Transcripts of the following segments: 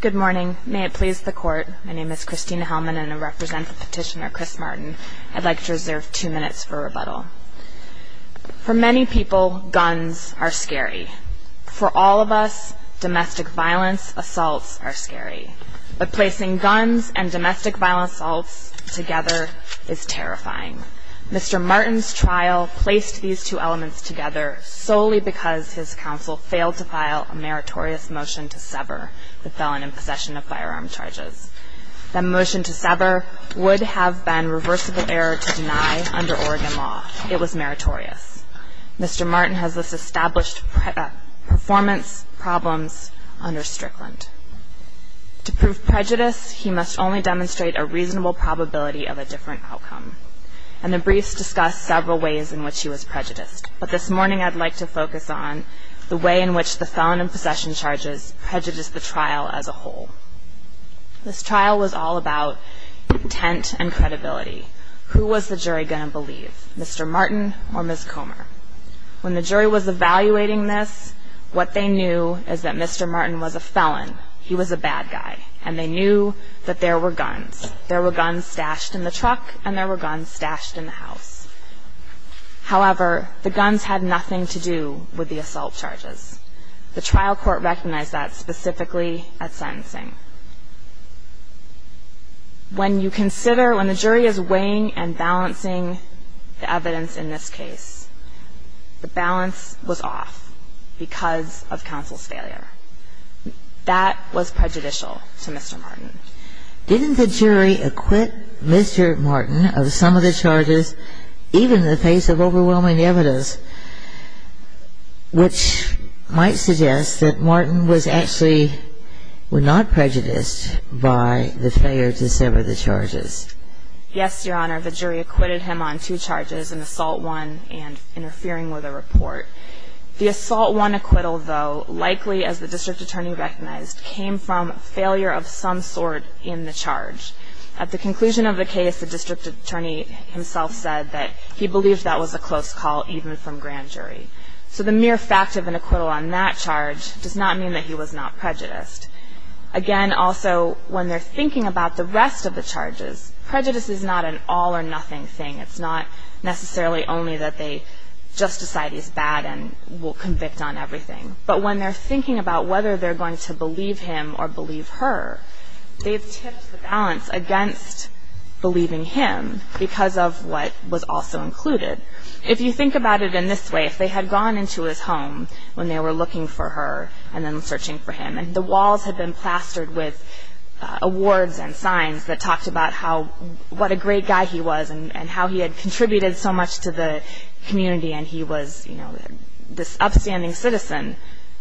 Good morning, may it please the court. My name is Christina Hellman and I represent the petitioner Chris Martin. I'd like to reserve two minutes for rebuttal For many people guns are scary for all of us Domestic violence assaults are scary, but placing guns and domestic violence assaults together is terrifying Mr. Martin's trial placed these two elements together Solely because his counsel failed to file a meritorious motion to sever the felon in possession of firearm charges The motion to sever would have been reversible error to deny under Oregon law. It was meritorious Mr. Martin has this established performance problems under Strickland To prove prejudice. He must only demonstrate a reasonable probability of a different outcome and the briefs discussed several ways in which he was prejudiced But this morning I'd like to focus on the way in which the felon in possession charges prejudiced the trial as a whole This trial was all about Intent and credibility. Who was the jury gonna believe? Mr. Martin or Miss Comer when the jury was evaluating this What they knew is that? Mr. Martin was a felon He was a bad guy and they knew that there were guns there were guns stashed in the truck and there were guns stashed in the house However, the guns had nothing to do with the assault charges the trial court recognized that specifically at sentencing When you consider when the jury is weighing and balancing the evidence in this case The balance was off because of counsel's failure That was prejudicial to mr. Martin. Didn't the jury acquit? Mr. Martin of some of the charges? even in the face of overwhelming evidence Which might suggest that Martin was actually Were not prejudiced by the failure to sever the charges Yes, your honor. The jury acquitted him on two charges an assault one and interfering with a report The assault one acquittal though likely as the district attorney recognized came from failure of some sort in the charge At the conclusion of the case the district attorney himself said that he believed that was a close call even from grand jury So the mere fact of an acquittal on that charge does not mean that he was not prejudiced Again, also when they're thinking about the rest of the charges prejudice is not an all-or-nothing thing It's not necessarily only that they just decide he's bad and will convict on everything But when they're thinking about whether they're going to believe him or believe her They've tipped the balance against Believing him because of what was also included if you think about it in this way if they had gone into his home When they were looking for her and then searching for him and the walls had been plastered with awards and signs that talked about how what a great guy he was and how he had contributed so much to the community and he was you know this upstanding citizen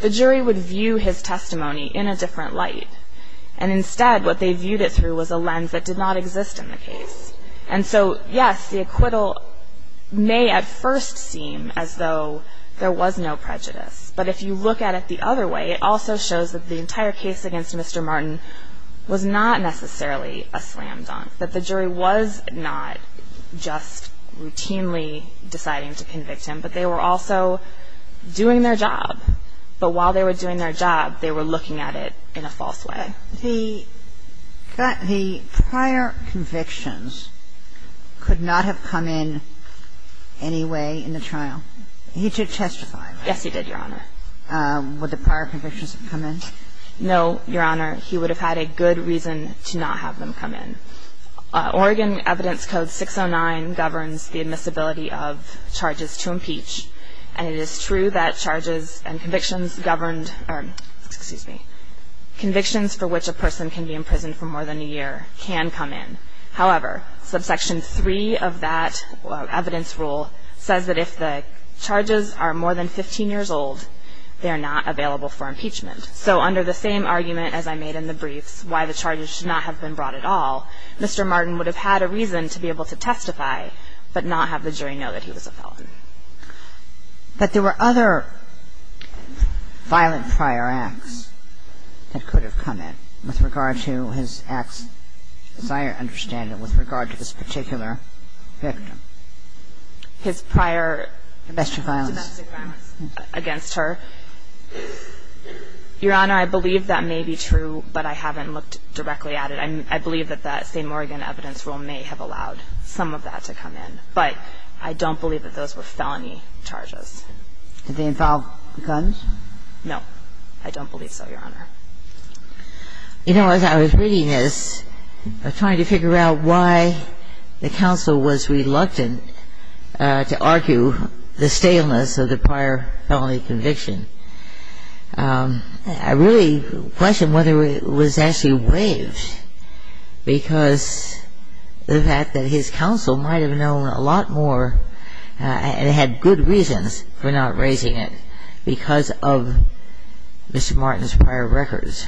the jury would view his testimony in a different light and Instead what they viewed it through was a lens that did not exist in the case. And so yes the acquittal May at first seem as though there was no prejudice, but if you look at it the other way It also shows that the entire case against. Mr. Martin was not necessarily a slam-dunk that the jury was not just routinely deciding to convict him, but they were also Doing their job But while they were doing their job they were looking at it in a false way he got the prior convictions Could not have come in Anyway in the trial he did testify. Yes. He did your honor Would the prior convictions have come in? No your honor. He would have had a good reason to not have them come in Oregon Evidence Code 609 governs the admissibility of Impeach and it is true that charges and convictions governed Convictions for which a person can be imprisoned for more than a year can come in however subsection 3 of that Evidence rule says that if the charges are more than 15 years old They are not available for impeachment. So under the same argument as I made in the briefs why the charges should not have been brought at Mr. Martin would have had a reason to be able to testify but not have the jury know that he was a felon But there were other Violent prior acts That could have come in with regard to his acts as I understand it with regard to this particular victim his prior Against her Your honor, I believe that may be true, but I haven't looked directly at it I believe that that same Oregon evidence rule may have allowed some of that to come in But I don't believe that those were felony charges. Did they involve guns? No, I don't believe so your honor You know as I was reading this Trying to figure out why the council was reluctant To argue the staleness of the prior felony conviction I really questioned whether it was actually waived because The fact that his counsel might have known a lot more And it had good reasons for not raising it because of Mr. Martin's prior records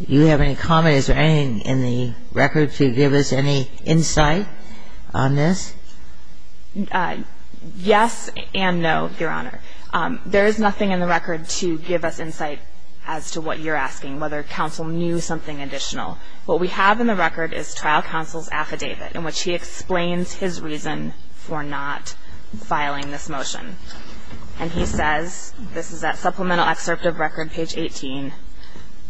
You have any comments or anything in the record to give us any insight on this? I Yes, and no your honor There is nothing in the record to give us insight as to what you're asking whether counsel knew something additional What we have in the record is trial counsel's affidavit in which he explains his reason for not filing this motion and he says this is that supplemental excerpt of record page 18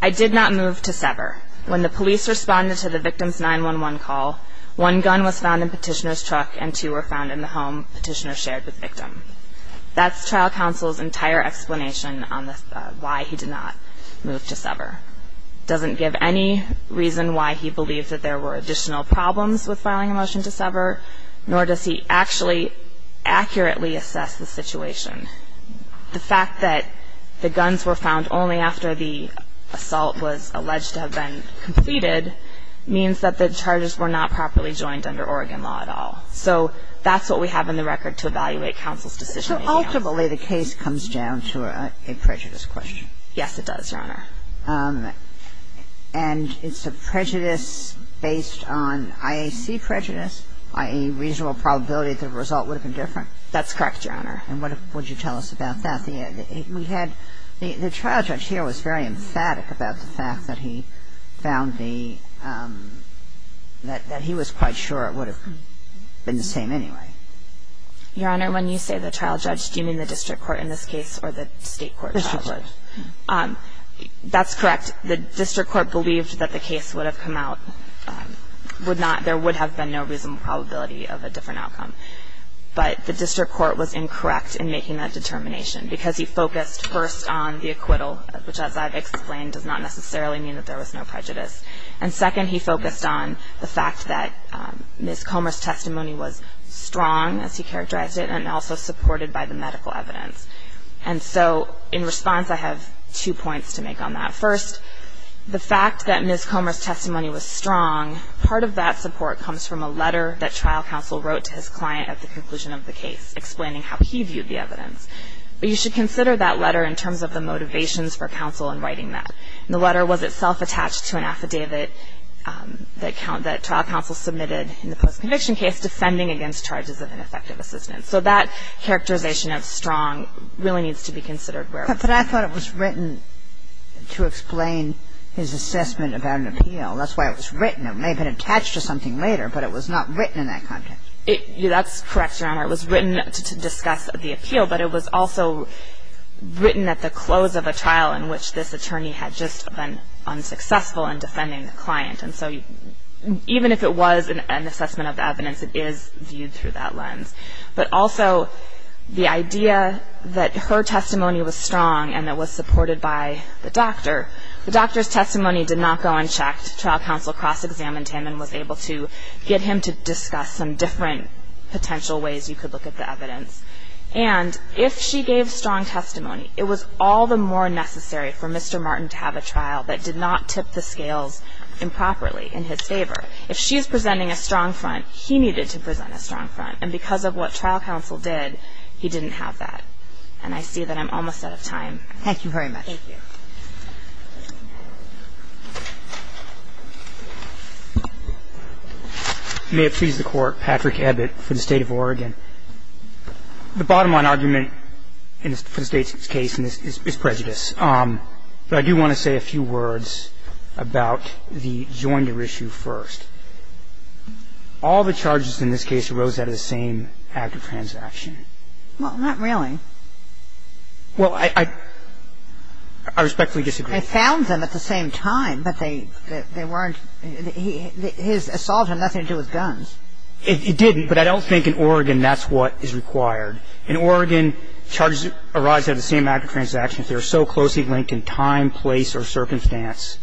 I Did not move to sever when the police responded to the victim's 9-1-1 call One gun was found in petitioners truck and two were found in the home petitioner shared with victim That's trial counsel's entire explanation on this why he did not move to sever Doesn't give any reason why he believed that there were additional problems with filing a motion to sever nor does he actually accurately assess the situation the fact that the guns were found only after the Assault was alleged to have been completed Means that the charges were not properly joined under Oregon law at all So that's what we have in the record to evaluate counsel's decision So ultimately the case comes down to a prejudice question. Yes, it does your honor and It's a prejudice based on IAC prejudice. I a reasonable probability the result would have been different That's correct your honor. And what would you tell us about that? We had the trial judge here was very emphatic about the fact that he found the That he was quite sure it would have been the same anyway Your honor when you say the trial judge, do you mean the district court in this case or the state court? That's correct the district court believed that the case would have come out Would not there would have been no reasonable probability of a different outcome But the district court was incorrect in making that determination because he focused first on the acquittal which as I've explained does not Necessarily mean that there was no prejudice and second he focused on the fact that Miss Comer's testimony was strong as he characterized it and also supported by the medical evidence And so in response, I have two points to make on that first The fact that Miss Comer's testimony was strong Part of that support comes from a letter that trial counsel wrote to his client at the conclusion of the case Explaining how he viewed the evidence But you should consider that letter in terms of the motivations for counsel and writing that the letter was itself attached to an affidavit That count that trial counsel submitted in the post-conviction case defending against charges of ineffective assistance. So that Characterization of strong really needs to be considered where but I thought it was written To explain his assessment about an appeal that's why it was written It may have been attached to something later, but it was not written in that context It that's correct your honor. It was written to discuss the appeal, but it was also written at the close of a trial in which this attorney had just been unsuccessful in defending the client and so Even if it was an assessment of evidence, it is viewed through that lens But also The idea that her testimony was strong and that was supported by the doctor The doctor's testimony did not go unchecked trial counsel cross-examined him and was able to get him to discuss some different Potential ways you could look at the evidence and if she gave strong testimony It was all the more necessary for mr. Martin to have a trial that did not tip the scales Improperly in his favor if she is presenting a strong front He needed to present a strong front and because of what trial counsel did he didn't have that and I see that I'm almost Out of time. Thank you very much May have sees the court Patrick Abbott for the state of Oregon The bottom line argument in the state's case in this is prejudice. Um, but I do want to say a few words About the joinder issue first All the charges in this case arose out of the same act of transaction. Well, not really well, I Respectfully disagree. I found them at the same time, but they they weren't His assault had nothing to do with guns. It didn't but I don't think in Oregon That's what is required in Oregon charges arise out of the same act of transaction They're so closely linked in time place or circumstance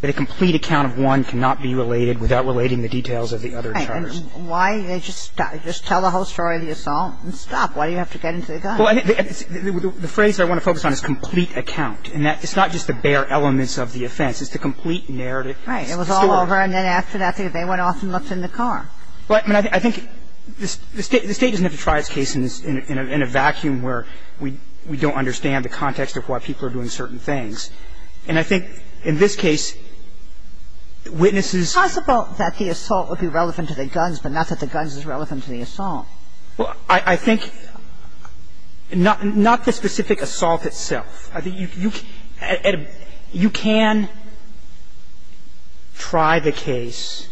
That a complete account of one cannot be related without relating the details of the other charges Why they just just tell the whole story of the assault and stop. Why do you have to get into the guy? Well, I think the phrase I want to focus on is complete account and that it's not just the bare elements of the offense It's the complete narrative, right? It was all over and then after that thing they went off and looked in the car But I think this state the state doesn't have to try its case in this in a vacuum where we we don't understand The context of why people are doing certain things and I think in this case Witnesses possible that the assault would be relevant to the guns, but not that the guns is relevant to the assault. Well, I think Not not the specific assault itself. I think you can Try the case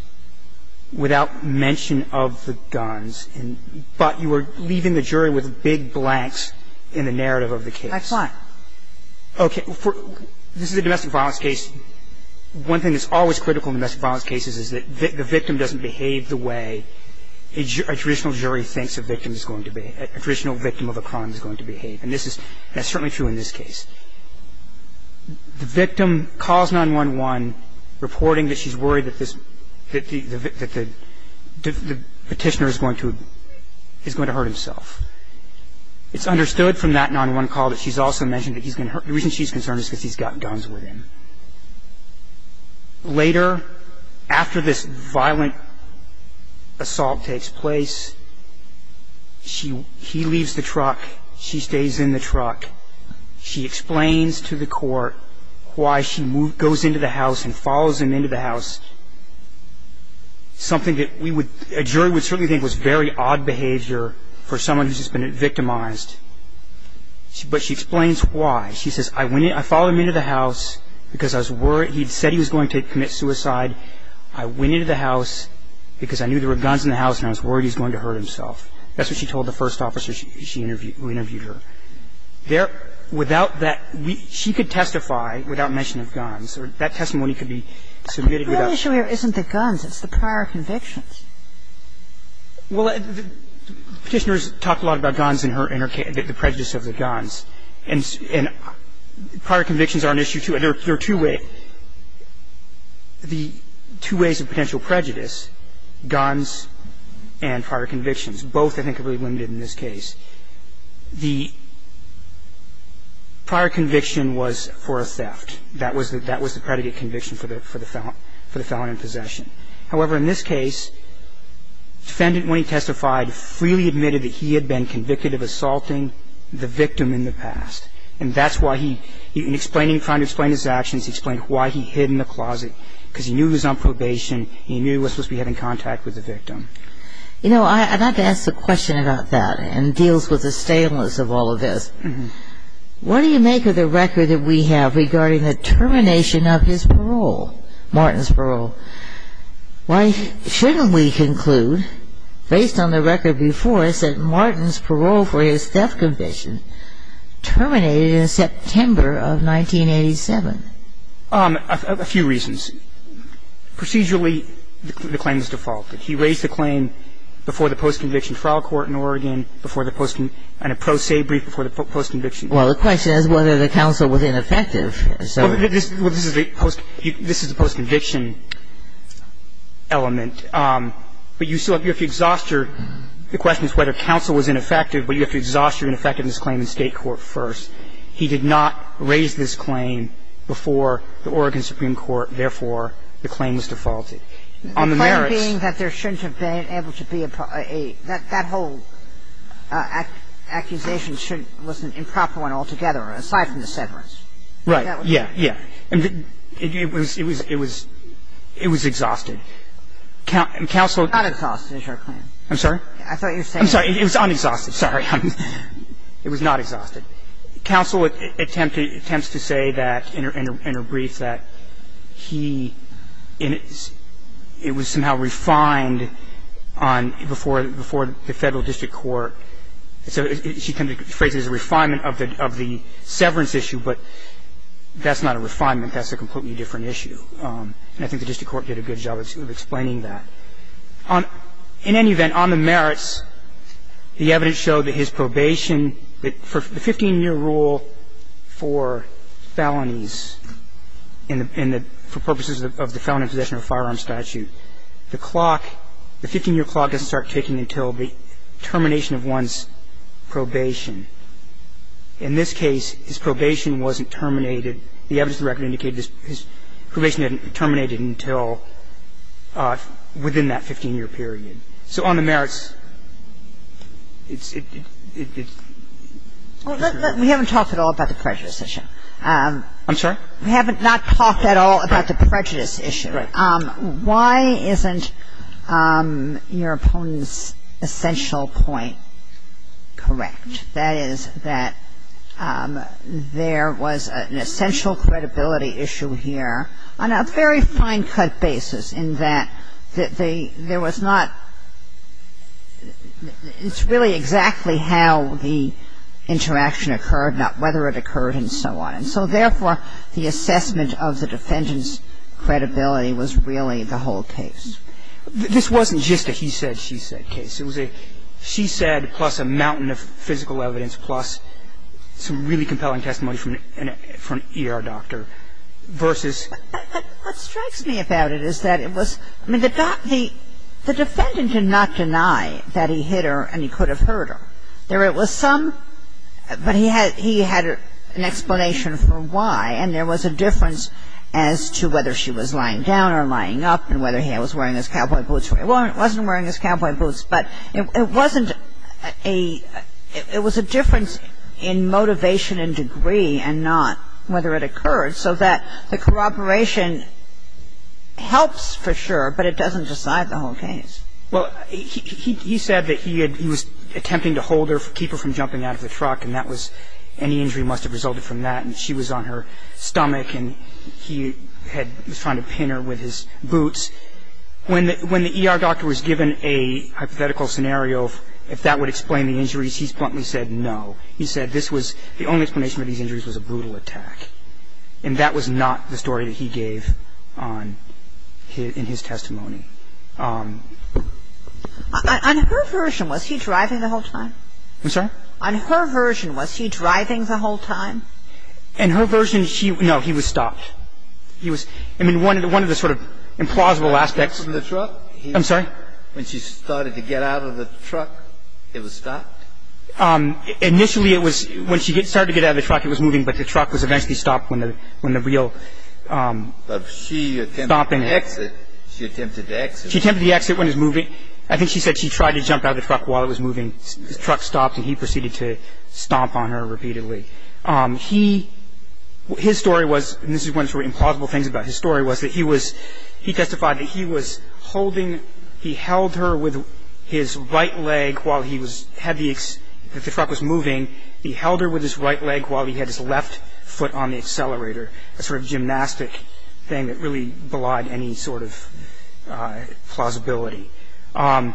Without mention of the guns and but you were leaving the jury with big blanks in the narrative of the case Okay This is a domestic violence case one thing that's always critical in domestic violence cases is that the victim doesn't behave the way a Traditional jury thinks a victim is going to be a traditional victim of a crime is going to behave and this is that's certainly true in this case the victim calls 9-1-1 reporting that she's worried that this that the Petitioner is going to is going to hurt himself It's understood from that 9-1-1 call that she's also mentioned that he's gonna hurt the reason she's concerned is because he's got guns with him Later after this violent assault takes place She he leaves the truck. She stays in the truck She explains to the court why she moved goes into the house and follows him into the house Something that we would a jury would certainly think was very odd behavior for someone who's just been victimized But she explains why she says I went I followed him into the house because I was worried He'd said he was going to commit suicide. I went into the house Because I knew there were guns in the house and I was worried. He's going to hurt himself That's what she told the first officer. She interviewed who interviewed her There without that we she could testify without mention of guns or that testimony could be submitted Isn't the guns it's the prior convictions well petitioners talked a lot about guns in her inner can't get the prejudice of the guns and Prior convictions are an issue to it. There are two way The two ways of potential prejudice guns and prior convictions both I think are really limited in this case the Prior conviction was for a theft. That was that that was the predicate conviction for the for the felon for the felon in possession however in this case Defendant when he testified freely admitted that he had been convicted of assaulting the victim in the past And that's why he even explaining trying to explain his actions explained why he hid in the closet because he knew he was on probation He knew was supposed to be having contact with the victim You know, I had to ask the question about that and deals with the stainless of all of this What do you make of the record that we have regarding the termination of his parole? Martin's parole Why shouldn't we conclude based on the record before us that Martin's parole for his theft conviction? terminated in September of 1987 a few reasons Procedurally the claims defaulted he raised the claim Before the post-conviction trial court in Oregon before the posting and a pro se brief before the post conviction Well, the question is whether the council was ineffective. So this is the post. This is the post conviction Element But you still have your if you exhaust your the question is whether counsel was ineffective But you have to exhaust your ineffectiveness claim in state court first He did not raise this claim before the Oregon Supreme Court Therefore the claim was defaulted on the merit being that there shouldn't have been able to be a pro a that that whole Accusation shouldn't listen improper one altogether aside from the severance, right? Yeah. Yeah, and it was it was it was it was exhausted Count and counsel not exhausted. I'm sorry. I thought you're saying sorry. It was unexhausted. Sorry It was not exhausted Counsel attempted attempts to say that in her in her brief that he in It was somehow refined on before before the federal district court so she can be phrased as a refinement of the of the severance issue, but That's not a refinement. That's a completely different issue And I think the district court did a good job of explaining that on in any event on the merits The evidence showed that his probation but for the 15-year rule for Felonies in the pin that for purposes of the felony possession of firearm statute the clock the 15-year clock doesn't start ticking until the termination of one's probation in this case his probation wasn't terminated the evidence record indicated his probation hadn't terminated until Within that 15-year period so on the merits It's it We haven't talked at all about the prejudice issue, I'm sorry, we haven't not talked at all about the prejudice issue Why isn't? Your opponent's essential point correct, that is that There was an essential credibility issue here on a very fine-cut basis in that that they there was not It's really exactly how the Interaction occurred not whether it occurred and so on and so therefore the assessment of the defendant's Credibility was really the whole case This wasn't just a he said she said case. It was a she said plus a mountain of physical evidence plus It's a really compelling testimony from an ER doctor versus What strikes me about it? Is that it was I mean the doc the the defendant did not deny that he hit her and he could have hurt her there it was some but he had he had an explanation for why and there was a difference as To whether she was lying down or lying up and whether he was wearing his cowboy boots well, it wasn't wearing his cowboy boots, but it wasn't a It was a difference in motivation and degree and not whether it occurred so that the corroboration Helps for sure, but it doesn't decide the whole case Well, he said that he had he was attempting to hold her for keep her from jumping out of the truck And that was any injury must have resulted from that and she was on her stomach And he had was trying to pin her with his boots When when the ER doctor was given a hypothetical scenario if that would explain the injuries he's bluntly said no He said this was the only explanation of these injuries was a brutal attack And that was not the story that he gave on hit in his testimony On her version was he driving the whole time I'm sorry on her version was he driving the whole time and Her version she no he was stopped He was I mean one of the one of the sort of implausible aspects in the truck I'm sorry when she started to get out of the truck. It was stopped Initially it was when she started to get out of the truck. It was moving, but the truck was eventually stopped when the when the real Stomping exit she attempted to exit she attempted the exit when is moving I think she said she tried to jump out of the truck while it was moving the truck stopped and he proceeded to Stomp on her repeatedly he His story was and this is one for implausible things about his story was that he was he testified that he was Holding he held her with his right leg while he was heavy If the truck was moving he held her with his right leg while he had his left foot on the accelerator a sort of gymnastic thing that really belied any sort of Plausibility The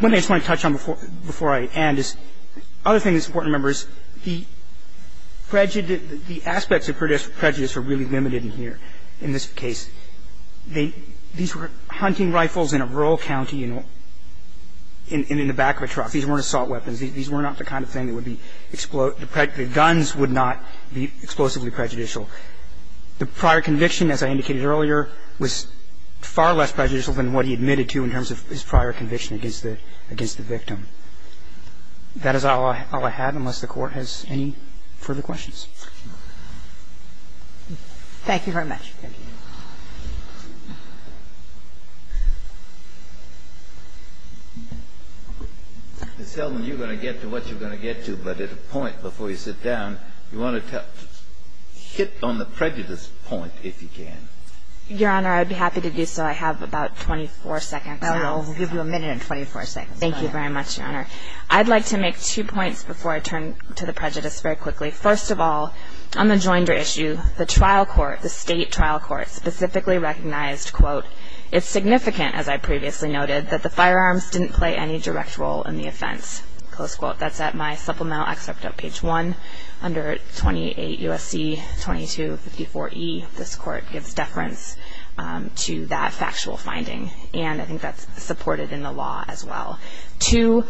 When they just want to touch on before before I and is other thing that's important members the Prejudice the aspects of produce prejudice are really limited in here in this case They these were hunting rifles in a rural county, you know In in the back of a truck. These weren't assault weapons These were not the kind of thing that would be explode the practically guns would not be explosively prejudicial the prior conviction as I indicated earlier was Far less prejudicial than what he admitted to in terms of his prior conviction against the against the victim That is all I had unless the court has any further questions Thank you very much It's telling you're gonna get to what you're gonna get to but at a point before you sit down you want to tell Hit on the prejudice point if you can your honor, I'd be happy to do so I have about 24 seconds I'll give you a minute in 24 seconds. Thank you very much your honor I'd like to make two points before I turn to the prejudice very quickly First of all on the joinder issue the trial court the state trial court specifically recognized quote It's significant as I previously noted that the firearms didn't play any direct role in the offense close quote That's at my supplemental excerpt up page 1 under 28 USC 22 54 e this court gives deference To that factual finding and I think that's supported in the law as well, too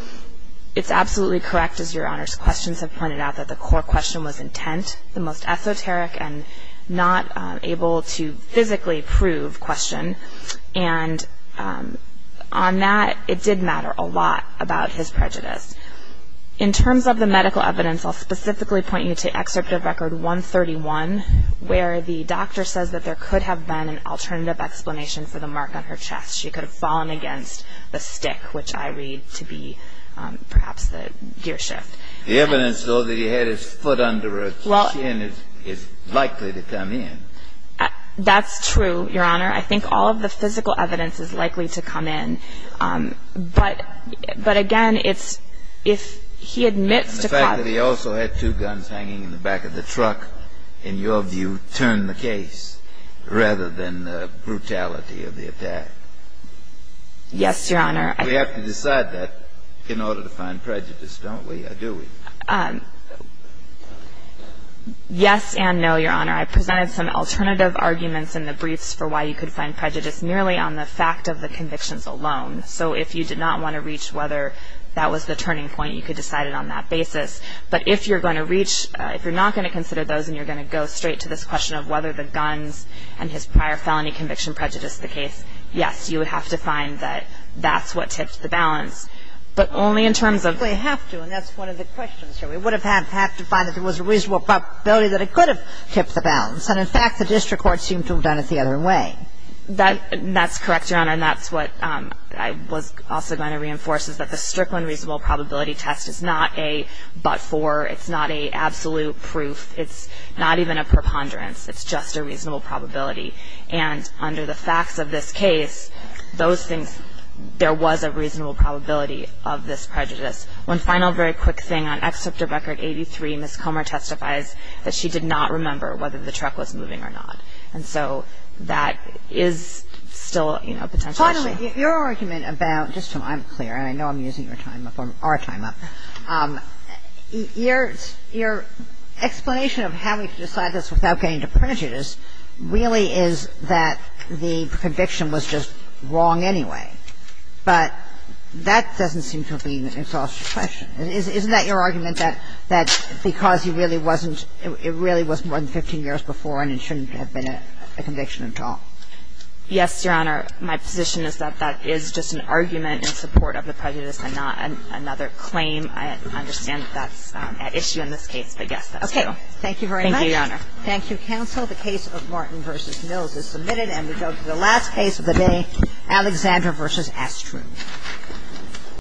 It's absolutely correct as your honors questions have pointed out that the core question was intent the most esoteric and not able to physically prove question and On that it did matter a lot about his prejudice In terms of the medical evidence, I'll specifically point you to excerpt of record 131 Where the doctor says that there could have been an alternative explanation for the mark on her chest She could have fallen against a stick which I read to be Perhaps the gearshift the evidence though that he had his foot under it. Well, it is likely to come in That's true. Your honor. I think all of the physical evidence is likely to come in But but again It's if he admits to fact that he also had two guns hanging in the back of the truck in your view turn the case rather than brutality of the attack Yes, your honor. We have to decide that in order to find prejudice. Don't we do it? Yes, and no your honor I presented some alternative Arguments in the briefs for why you could find prejudice merely on the fact of the convictions alone So if you did not want to reach whether that was the turning point you could decide it on that basis but if you're going to reach if you're not going to consider those and you're going to go straight to this question of whether the Guns and his prior felony conviction prejudice the case. Yes, you would have to find that that's what tips the balance But only in terms of we have to and that's one of the questions We would have had have to find that there was a reasonable Probability that it could have kept the balance and in fact the district court seemed to have done it the other way That that's correct your honor And that's what I was also going to reinforce is that the Strickland reasonable probability test is not a but for it's not a Absolute proof. It's not even a preponderance. It's just a reasonable probability and under the facts of this case Those things there was a reasonable probability of this prejudice one final very quick thing on excerpt of record 83 Miss Comer testifies that she did not remember whether the truck was moving or not. And so that is Still, you know potentially your argument about just so I'm clear and I know I'm using your time before our time up Years your Explanation of having to decide this without getting to prejudice really is that the conviction was just wrong anyway But that doesn't seem to be an exhaustive question It is isn't that your argument that that? Because he really wasn't it really was more than 15 years before and it shouldn't have been a conviction at all Yes, your honor. My position is that that is just an argument in support of the prejudice and not another claim Understand that's an issue in this case, but yes, okay. Thank you very much. Thank you. Your honor Thank you counsel the case of Martin vs. Mills is submitted and we go to the last case of the day Alexandra vs. Astro